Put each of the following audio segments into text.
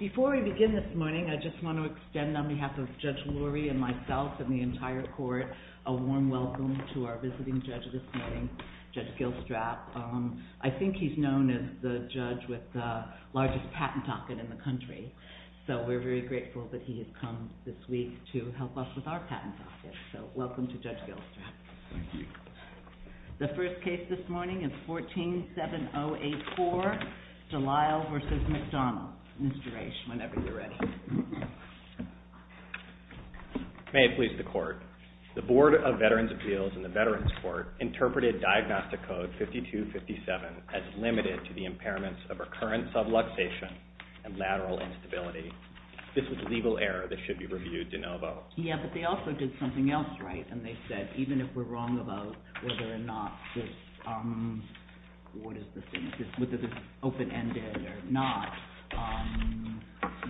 Before we begin this morning, I just want to extend on behalf of Judge Lurie and myself and the entire court a warm welcome to our visiting judge this morning, Judge Gilstrap. I think he's known as the judge with the largest patent docket in the country, so we're very grateful that he has come this week to help us with our patent docket. So welcome to Judge McDonald. Mr. H, whenever you're ready. May it please the court. The Board of Veterans Appeals in the Veterans Court interpreted Diagnostic Code 5257 as limited to the impairments of recurrent subluxation and lateral instability. This was a legal error that should be reviewed de novo. Yeah, but they also did something else right, and they said even if we're wrong about whether or not this open-ended or not,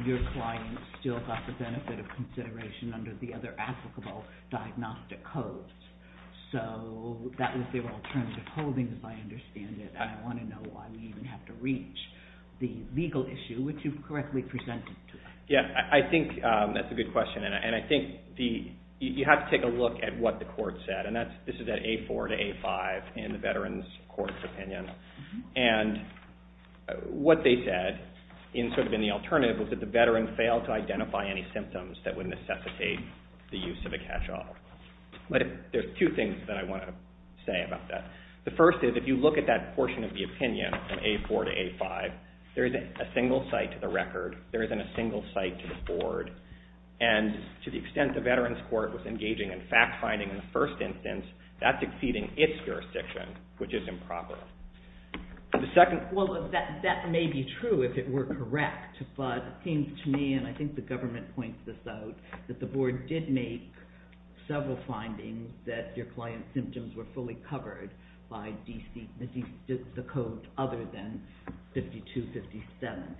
your client still got the benefit of consideration under the other applicable diagnostic codes. So that was their alternative holding, as I understand it, and I want to know why we even have to reach the legal issue which you correctly presented to us. Yeah, I think that's a good question, and I think you have to take a look at what the court said, and this is at A4 to A5 in the Veterans Court's opinion, and what they said, sort of in the alternative, was that the veteran failed to identify any symptoms that would necessitate the use of a catch-all. But there's two things that I want to say about that. The first is if you look at that portion of the opinion from A4 to A5, there isn't a single site to the record, there isn't a single site to the board, and to the extent the Veterans Court was engaging in fact-finding in the first instance, that's exceeding its jurisdiction, which is improper. Well, that may be true if it were correct, but it seems to me, and I think the government points this out, that the board did make several findings that your client's symptoms were fully covered by the codes other than 52-57.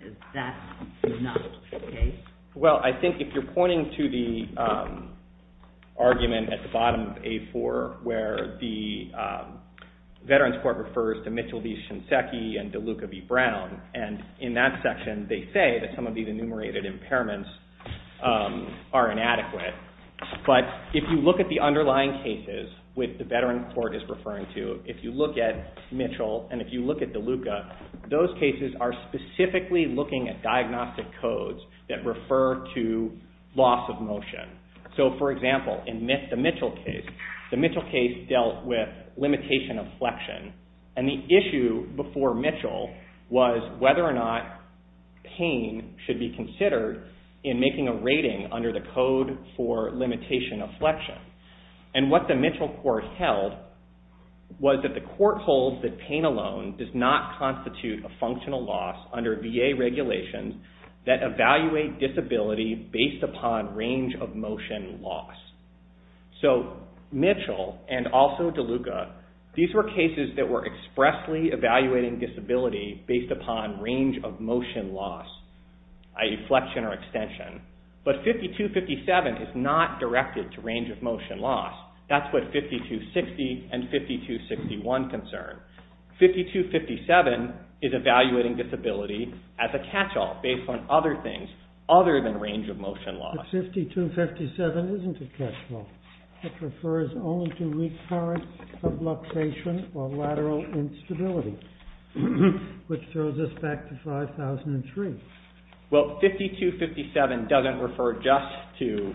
Is that not the case? Well, I think if you're pointing to the argument at the bottom of A4 where the Veterans Court refers to Mitchell v. Shinseki and DeLuca v. Brown, and in that section they say that some of these enumerated impairments are inadequate, but if you look at the underlying cases with the Veterans Court is referring to, if you look at Mitchell and if you look at DeLuca, those cases are specifically looking at diagnostic codes that refer to loss of motion. So, for example, in the Mitchell case, the Mitchell case dealt with limitation of flexion, and the issue before Mitchell was whether or not pain should be considered in making a rating under the code for limitation of flexion. And what the Mitchell court held was that the functional loss under VA regulations that evaluate disability based upon range of motion loss. So, Mitchell and also DeLuca, these were cases that were expressly evaluating disability based upon range of motion loss, i.e. flexion or extension. But 52-57 is not directed to range of motion loss. That's what 52-60 and 52-61 concern. 52-57 is evaluating disability as a catch-all based on other things other than range of motion loss. But 52-57 isn't a catch-all. It refers only to recurrence of luxation or lateral instability, which throws us back to 5003. Well, 52-57 doesn't refer just to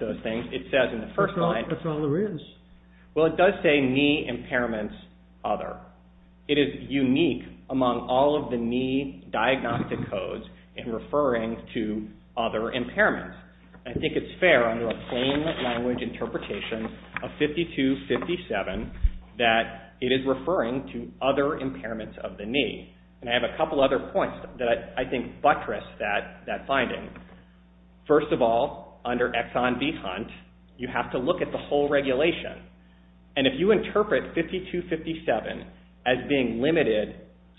those things. It says in the first line... That's all there is. Well, it does say knee impairments other. It is unique among all of the knee diagnostic codes in referring to other impairments. I think it's fair under a plain language interpretation of 52-57 that it is referring to other impairments of the knee. And I have a couple other points that I think buttress that finding. First of all, under Exxon V-Hunt, you have to look at the whole regulation. And if you interpret 52-57 as being limited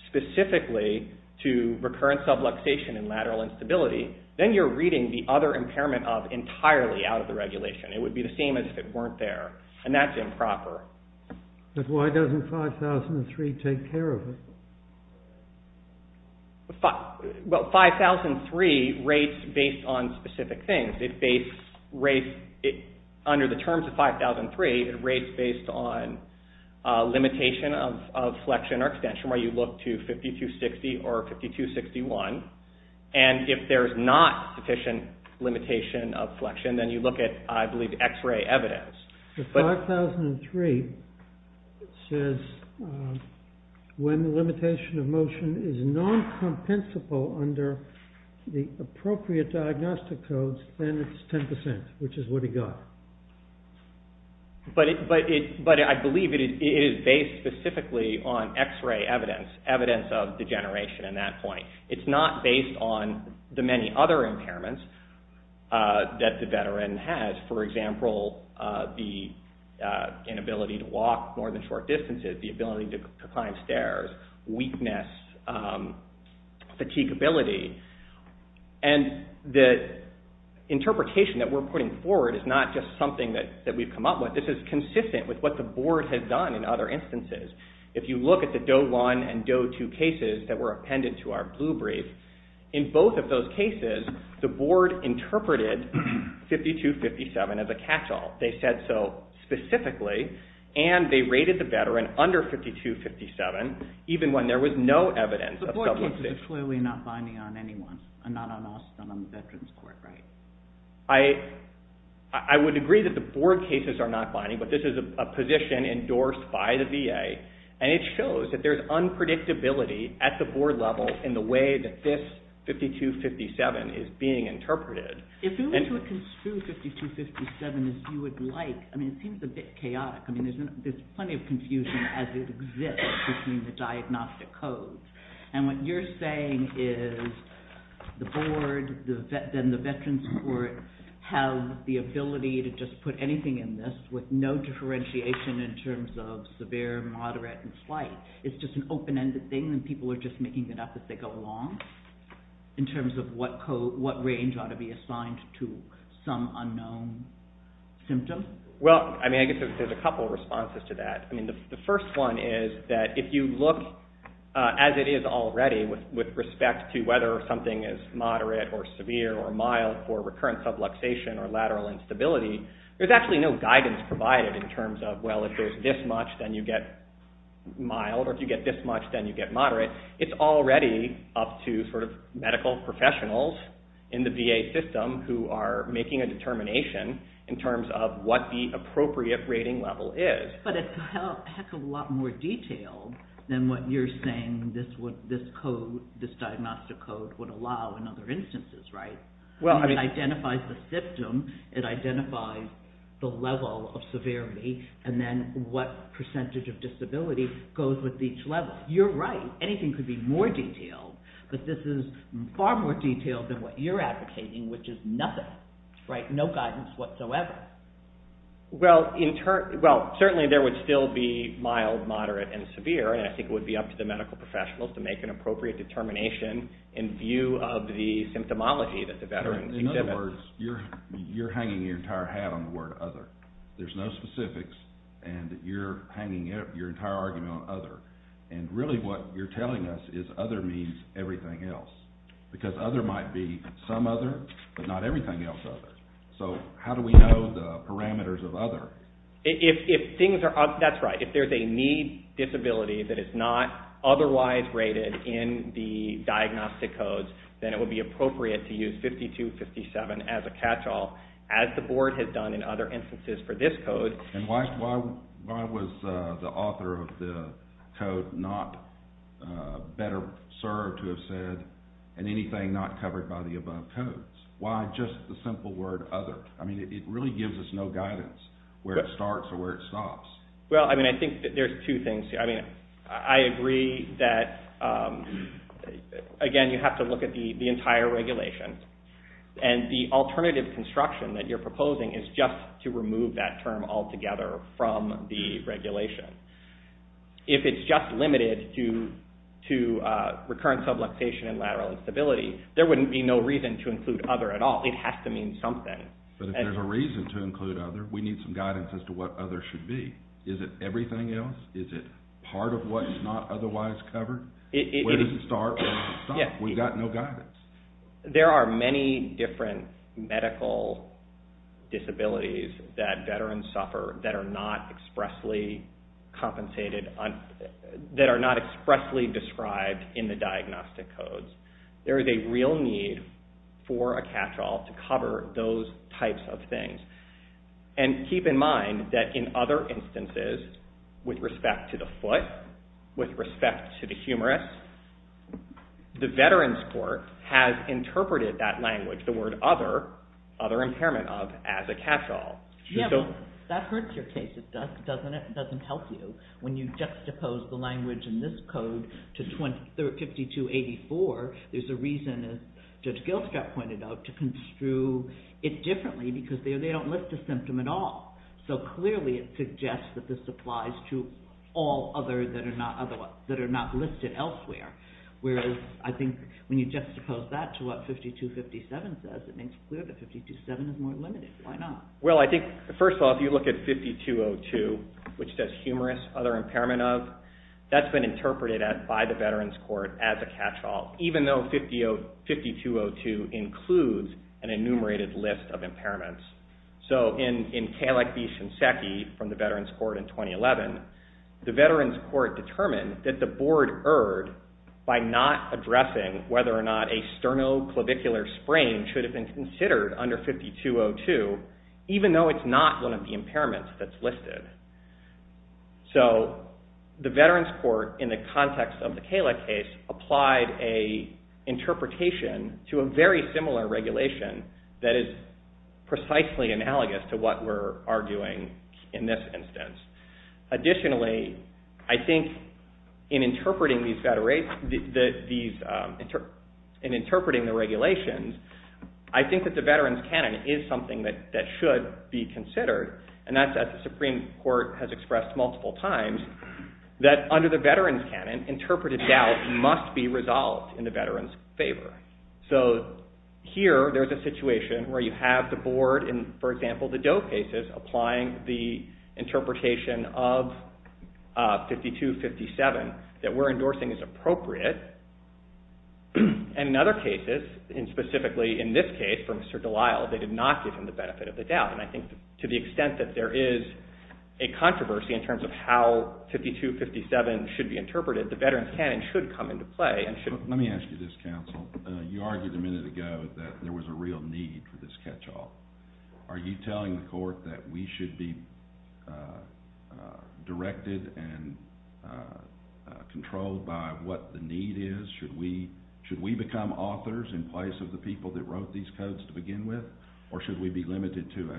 specifically to recurrence of luxation and lateral instability, then you're reading the other impairment of entirely out of the regulation. It would be the same as if it weren't there. And that's improper. But why doesn't 5003 take care of it? Well, 5003 rates based on specific things. It rates under the terms of 5003, it rates based on limitation of flexion or extension, where you look to 52-60 or 52-61. And if there's not sufficient limitation of flexion, then you look at, I believe, x-ray evidence. But 5003 says when the limitation of motion is non-compensable under the appropriate diagnostic codes, then it's 10%, which is what he got. But I believe it is based specifically on x-ray evidence, evidence of degeneration in that point. It's not based on the many other impairments that the veteran has. For example, the inability to walk more than short distances, the ability to climb stairs, weakness, fatigability. And the interpretation that we're putting forward is not just something that we've come up with. This is consistent with what the board has done in other instances. If you look at the DOE-1 and DOE-2 cases that were appended to our blue brief, in both of those cases, the board interpreted 52-57 as a catch-all. They said so specifically, and they rated the veteran under 52-57, even when there was no evidence of sublimation. The board cases are clearly not binding on anyone, and not on us, but on the Veterans Court, right? I would agree that the board cases are not binding, but this is a position endorsed by the VA, and it shows that there's unpredictability at the board level in the way that this 52-57 is being interpreted. If you were to construe 52-57 as you would like, I mean, it seems a bit chaotic. I mean, there's plenty of confusion as it exists between the diagnostic codes. And what you're saying is the board, then the Veterans Court, have the ability to just put anything in this with no differentiation in terms of severe, moderate, and slight. It's just an open-ended thing, and people are just making it up as they go along, in terms of what range ought to be assigned to some unknown symptom? Well, I mean, I guess there's a couple of responses to that. I mean, the first one is that if you look as it is already with respect to whether something is moderate or severe or mild for recurrent subluxation or lateral instability, there's actually no guidance provided in terms of, well, if there's this much, then you get mild, or if you get this much, then you get moderate. It's already up to sort of medical professionals in the VA system who are making a determination in terms of what the appropriate rating level is. But it's a heck of a lot more detailed than what you're saying this diagnostic code would allow in other instances, right? I mean, it identifies the symptom, it identifies the level of severity, and then what percentage of disability goes with each level. You're right. Anything could be more detailed. But this is far more detailed than what you're advocating, which is nothing, right? No guidance whatsoever. Well, certainly there would still be mild, moderate, and severe, and I think it would be up to the medical professionals to make an appropriate determination in view of the symptomology that the veterans exhibit. In other words, you're hanging your entire hat on the word other. There's no specifics, and you're hanging your entire argument on other. And really what you're telling us is other means everything else, because other might be some other, but not everything else other. So how do we know the parameters of other? That's right. If there's a need disability that is not otherwise rated in the diagnostic codes, then it would be appropriate to use 5257 as a catch-all, as the board has done in other instances for this code. And why was the author of the code not better served to have said, and anything not covered by the above codes? Why just the simple word other? I mean, it really gives us no guidance where it starts or where it stops. Well, I mean, I think there's two things. I mean, I agree that, again, you have to look at the entire regulation, and the alternative construction that you're proposing is just to remove that term altogether from the regulation. If it's just limited to recurrent subluxation and lateral instability, there wouldn't be no reason to include other at all. It has to mean something. But if there's a reason to include other, we need some guidance as to what other should be. Is it everything else? Is it part of what is not otherwise covered? Where does it start and where does it stop? We've got no guidance. There are many different medical disabilities that veterans suffer that are not expressly compensated on – that are not expressly described in the diagnostic codes. There is a real need for a catch-all to cover those types of things. And keep in mind that in other instances, with respect to the foot, with respect to the humerus, the veterans court has interpreted that language, the word other, other impairment of, as a catch-all. That hurts your case. It doesn't help you. When you juxtapose the language in this code to 5284, there's a reason, as Judge Gilstrap pointed out, to construe it differently because they don't list a symptom at all. So clearly it suggests that this applies to all other that are not listed elsewhere. Whereas I think when you juxtapose that to what 5257 says, it makes clear that 5257 is more limited. Why not? Well, I think, first of all, if you look at 5202, which says humerus, other impairment of, that's been interpreted by the veterans court as a catch-all, even though 5202 includes an enumerated list of impairments. So in Kalecki-Shinseki from the veterans court in 2011, the veterans court determined that the board erred by not addressing whether or not a sternoclavicular sprain should have been considered under 5202, even though it's not one of the impairments that's listed. So the veterans court, in the context of the Kaleck case, applied an interpretation to a very similar regulation that is precisely analogous to what we're arguing in this instance. Additionally, I think in interpreting the regulations, I think that the veterans canon is something that should be considered, and that's what the Supreme Court has expressed multiple times, that under the veterans canon, interpreted doubt must be resolved in the veterans' favor. So here, there's a situation where you have the board, in, for example, the Doe cases, applying the interpretation of 5257 that we're endorsing as appropriate, and in other cases, and specifically in this case for Mr. Delisle, they did not give him the benefit of the doubt. And I think to the extent that there is a controversy in terms of how 5257 should be interpreted, the veterans canon should come into play. Let me ask you this, counsel. You argued a minute ago that there was a real need for this catch-all. Are you telling the court that we should be directed and controlled by what the need is? Should we become authors in place of the people that wrote these codes to begin with? Or should we be limited to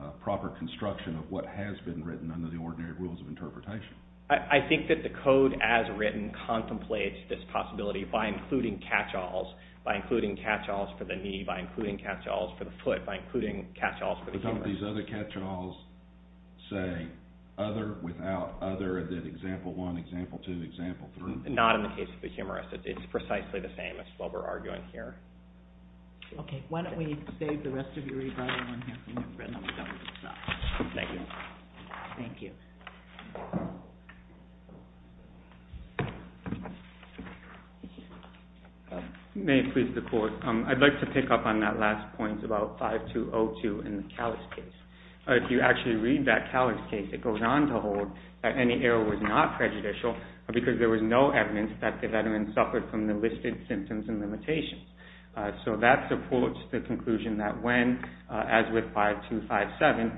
a proper construction of what has been written under the ordinary rules of interpretation? I think that the code as written contemplates this possibility by including catch-alls, by including catch-alls for the knee, by including catch-alls for the foot, by including catch-alls for the humorist. But don't these other catch-alls say, other without other, that example one, example two, example three? Not in the case of the humorist. It's precisely the same as what we're arguing here. Okay, why don't we save the rest of your rebuttal and have a new friend on the government's side. Thank you. Thank you. May it please the court, I'd like to pick up on that last point about 5202 in the Callis case. If you actually read that Callis case, it goes on to hold that any error was not prejudicial because there was no evidence that the veteran suffered from the listed symptoms and limitations. So that supports the conclusion that when, as with 5257,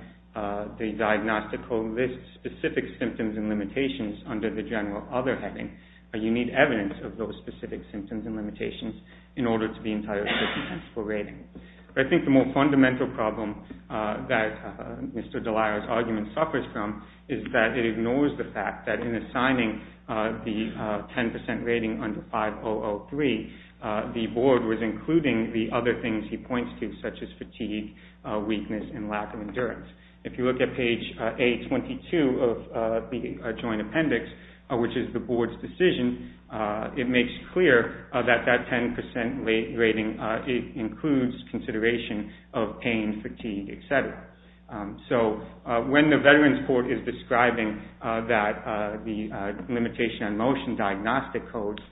the diagnostic code lists specific symptoms and limitations under the general other heading, you need evidence of those specific symptoms and limitations in order to be entitled for rating. But I think the more fundamental problem that Mr. Delaro's argument suffers from is that it ignores the fact that in assigning the 10% rating under 5003, the board was including the other things he points to, such as fatigue, weakness, and lack of endurance. If you look at page 822 of the joint appendix, which is the board's decision, it makes clear that that 10% rating includes consideration of pain, fatigue, etc. So when the veterans court is describing that the limitation on motion diagnostic codes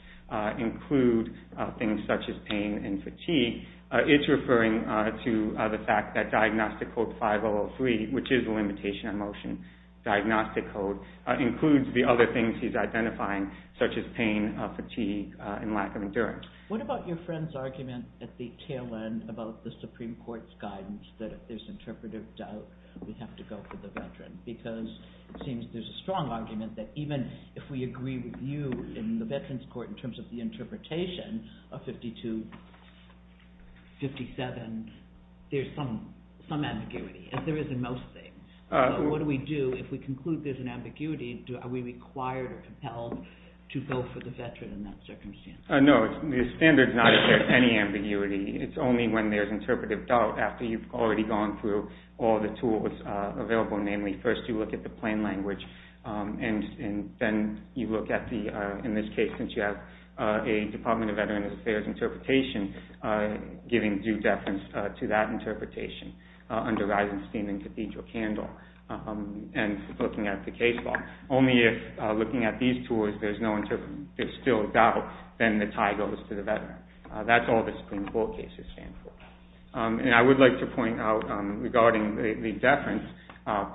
include things such as pain and fatigue, it's referring to the fact that diagnostic code 5003, which is the limitation on motion diagnostic code, includes the other things he's identifying, such as pain, fatigue, and lack of endurance. What about your friend's argument at the tail end about the Supreme Court's guidance that if there's interpretive doubt, we have to go for the veteran? Because it seems there's a strong argument that even if we agree with you in the veterans court in terms of the interpretation of 5257, there's some ambiguity, as there is in most things. So what do we do if we conclude there's an ambiguity? Are we required or compelled to go for the veteran in that circumstance? No, the standard is not if there's any ambiguity. It's only when there's interpretive doubt after you've already gone through all the tools available. Namely, first you look at the plain language, and then you look at the, in this case, since you have a Department of Veterans Affairs interpretation, giving due deference to that interpretation under Eisenstein and Cathedral-Candle, and looking at the case law. Only if, looking at these tools, there's still doubt, then the tie goes to the veteran. That's all the Supreme Court cases stand for. And I would like to point out, regarding the deference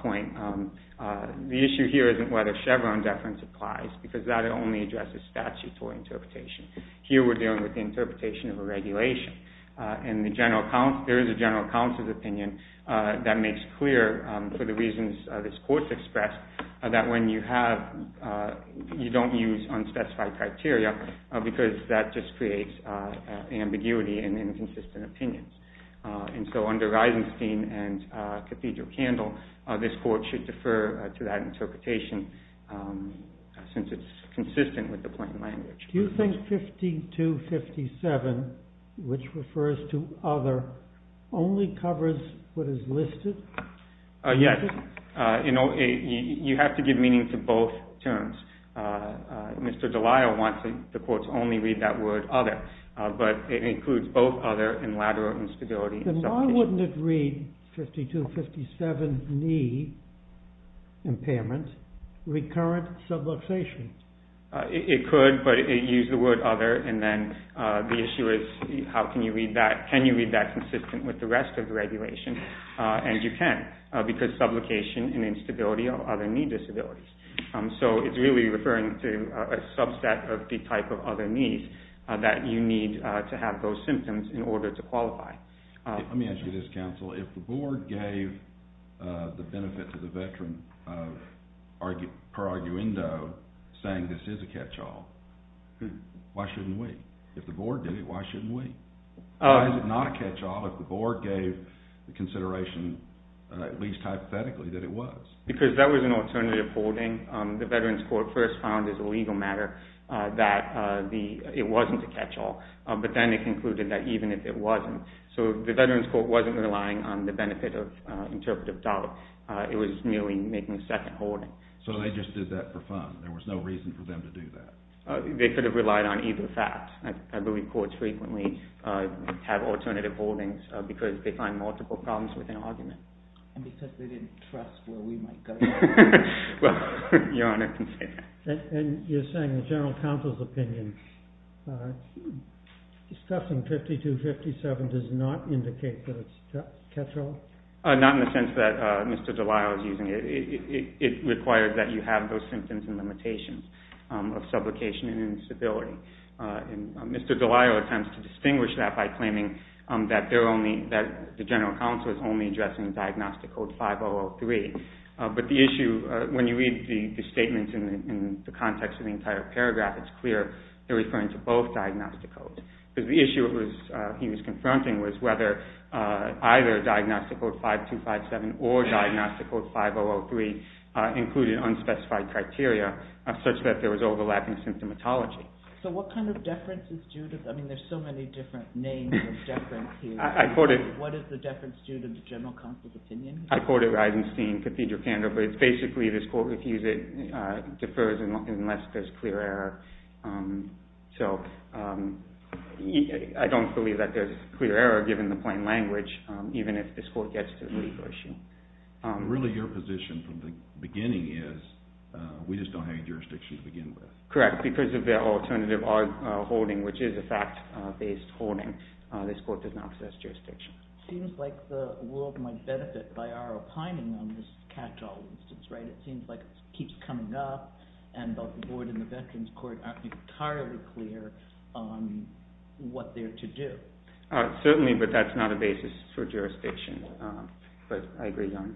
point, the issue here isn't whether Chevron deference applies, because that only addresses statutory interpretation. Here we're dealing with the interpretation of a regulation. And there is a general counsel's opinion that makes clear, for the reasons this Court's expressed, that when you have, you don't use unspecified criteria, because that just creates ambiguity and inconsistent opinions. And so under Eisenstein and Cathedral-Candle, this Court should defer to that interpretation, since it's consistent with the plain language. Do you think 5257, which refers to other, only covers what is listed? Yes. You have to give meaning to both terms. Mr. Delisle wants the courts only read that word, other. But it includes both other and lateral instability. Then why wouldn't it read 5257, knee impairment, recurrent subluxation? It could, but it used the word other, and then the issue is, how can you read that? Can you read that consistent with the rest of the regulation? And you can, because subluxation and instability are other knee disabilities. So it's really referring to a subset of the type of other knees that you need to have those symptoms in order to qualify. Let me ask you this, counsel. If the board gave the benefit to the veteran per arguendo, saying this is a catch-all, why shouldn't we? If the board did it, why shouldn't we? Why is it not a catch-all if the board gave the consideration, at least hypothetically, that it was? Because that was an alternative holding. The Veterans Court first found as a legal matter that it wasn't a catch-all, but then it concluded that even if it wasn't. So the Veterans Court wasn't relying on the benefit of interpretive doubt. It was merely making a second holding. So they just did that for fun. There was no reason for them to do that. They could have relied on either fact. I believe courts frequently have alternative holdings because they find multiple problems with an argument. And because they didn't trust where we might go. Well, Your Honor can say that. And you're saying the general counsel's opinion, discussing 5257 does not indicate that it's a catch-all? Not in the sense that Mr. Delisle is using it. It requires that you have those symptoms and limitations of sublocation and instability. And Mr. Delisle attempts to distinguish that by claiming that the general counsel is only addressing Diagnostic Code 5003. But the issue, when you read the statement in the context of the entire paragraph, it's clear. They're referring to both Diagnostic Codes. Because the issue he was confronting was whether either Diagnostic Code 5257 or Diagnostic Code 5003 included unspecified criteria, such that there was overlapping symptomatology. So what kind of deference is due to... I mean, there's so many different names of deference here. What is the deference due to the general counsel's opinion? I quoted Eisenstein, Cathedral Candor, but it's basically this court refused it, so I don't believe that there's clear error given the plain language, even if this court gets to the legal issue. Really, your position from the beginning is we just don't have any jurisdiction to begin with. Correct, because of the alternative holding, which is a fact-based holding, this court does not possess jurisdiction. Seems like the world might benefit by our opining on this catch-all instance, right? It seems like it keeps coming up, and both the board and the veterans' court aren't entirely clear on what they're to do. Certainly, but that's not a basis for jurisdiction. But I agree, Your Honor.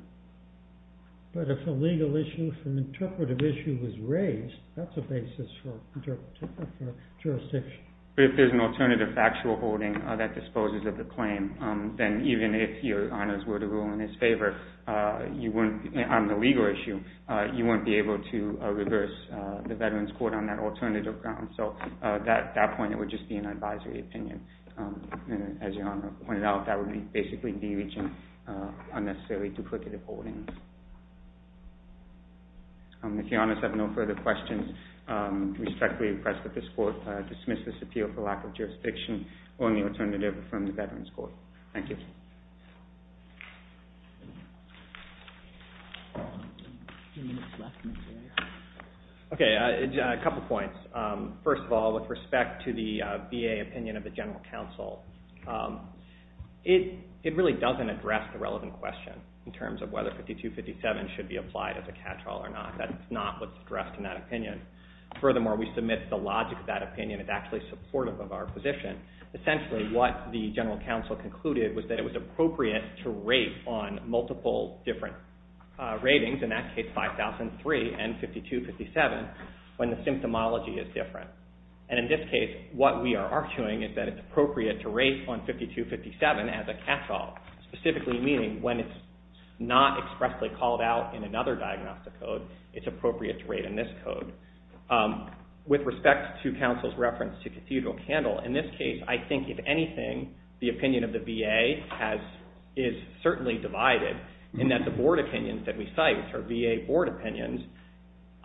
But if a legal issue, if an interpretive issue was raised, that's a basis for jurisdiction. But if there's an alternative factual holding that disposes of the claim, then even if Your Honor's were to rule in his favor, on the legal issue, you wouldn't be able to reverse the veterans' court on that alternative grounds. So at that point, it would just be an advisory opinion. As Your Honor pointed out, that would basically be reaching unnecessarily duplicative holdings. If Your Honor has no further questions, we respectfully request that this court dismiss this appeal for lack of jurisdiction or any alternative from the veterans' court. Thank you. Okay, a couple points. First of all, with respect to the VA opinion of the general counsel, it really doesn't address the relevant question in terms of whether 5257 should be applied as a catch-all or not. That's not what's addressed in that opinion. Furthermore, we submit the logic of that opinion is actually supportive of our position. Essentially, what the general counsel concluded was that it was appropriate to rate on multiple different ratings. In that case, 5003 and 5257, when the symptomology is different. And in this case, what we are arguing is that it's appropriate to rate on 5257 as a catch-all, specifically meaning when it's not expressly called out in another diagnostic code, it's appropriate to rate in this code. With respect to counsel's reference to Cathedral Candle, in this case, I think, if anything, the opinion of the VA is certainly divided in that the board opinions that we cite, which are VA board opinions,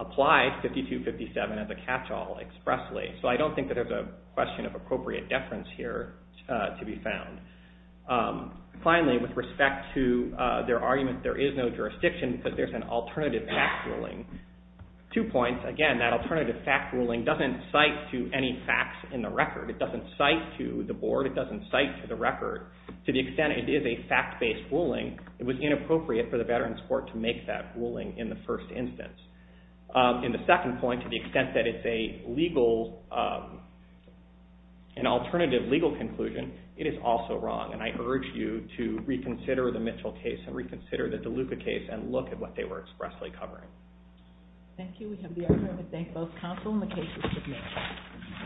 apply 5257 as a catch-all expressly. So I don't think that there's a question of appropriate deference here to be found. Finally, with respect to their argument there is no jurisdiction, but there's an alternative fact ruling. Two points. Again, that alternative fact ruling doesn't cite to any facts in the record. It doesn't cite to the board. It doesn't cite to the record. To the extent it is a fact-based ruling, it was inappropriate for the Veterans Court to make that ruling in the first instance. In the second point, to the extent that it's an alternative legal conclusion, it is also wrong. And I urge you to reconsider the Mitchell case and reconsider the DeLuca case and look at what they were expressly covering. Thank you. We have the honor to thank both counsel and the cases submitted.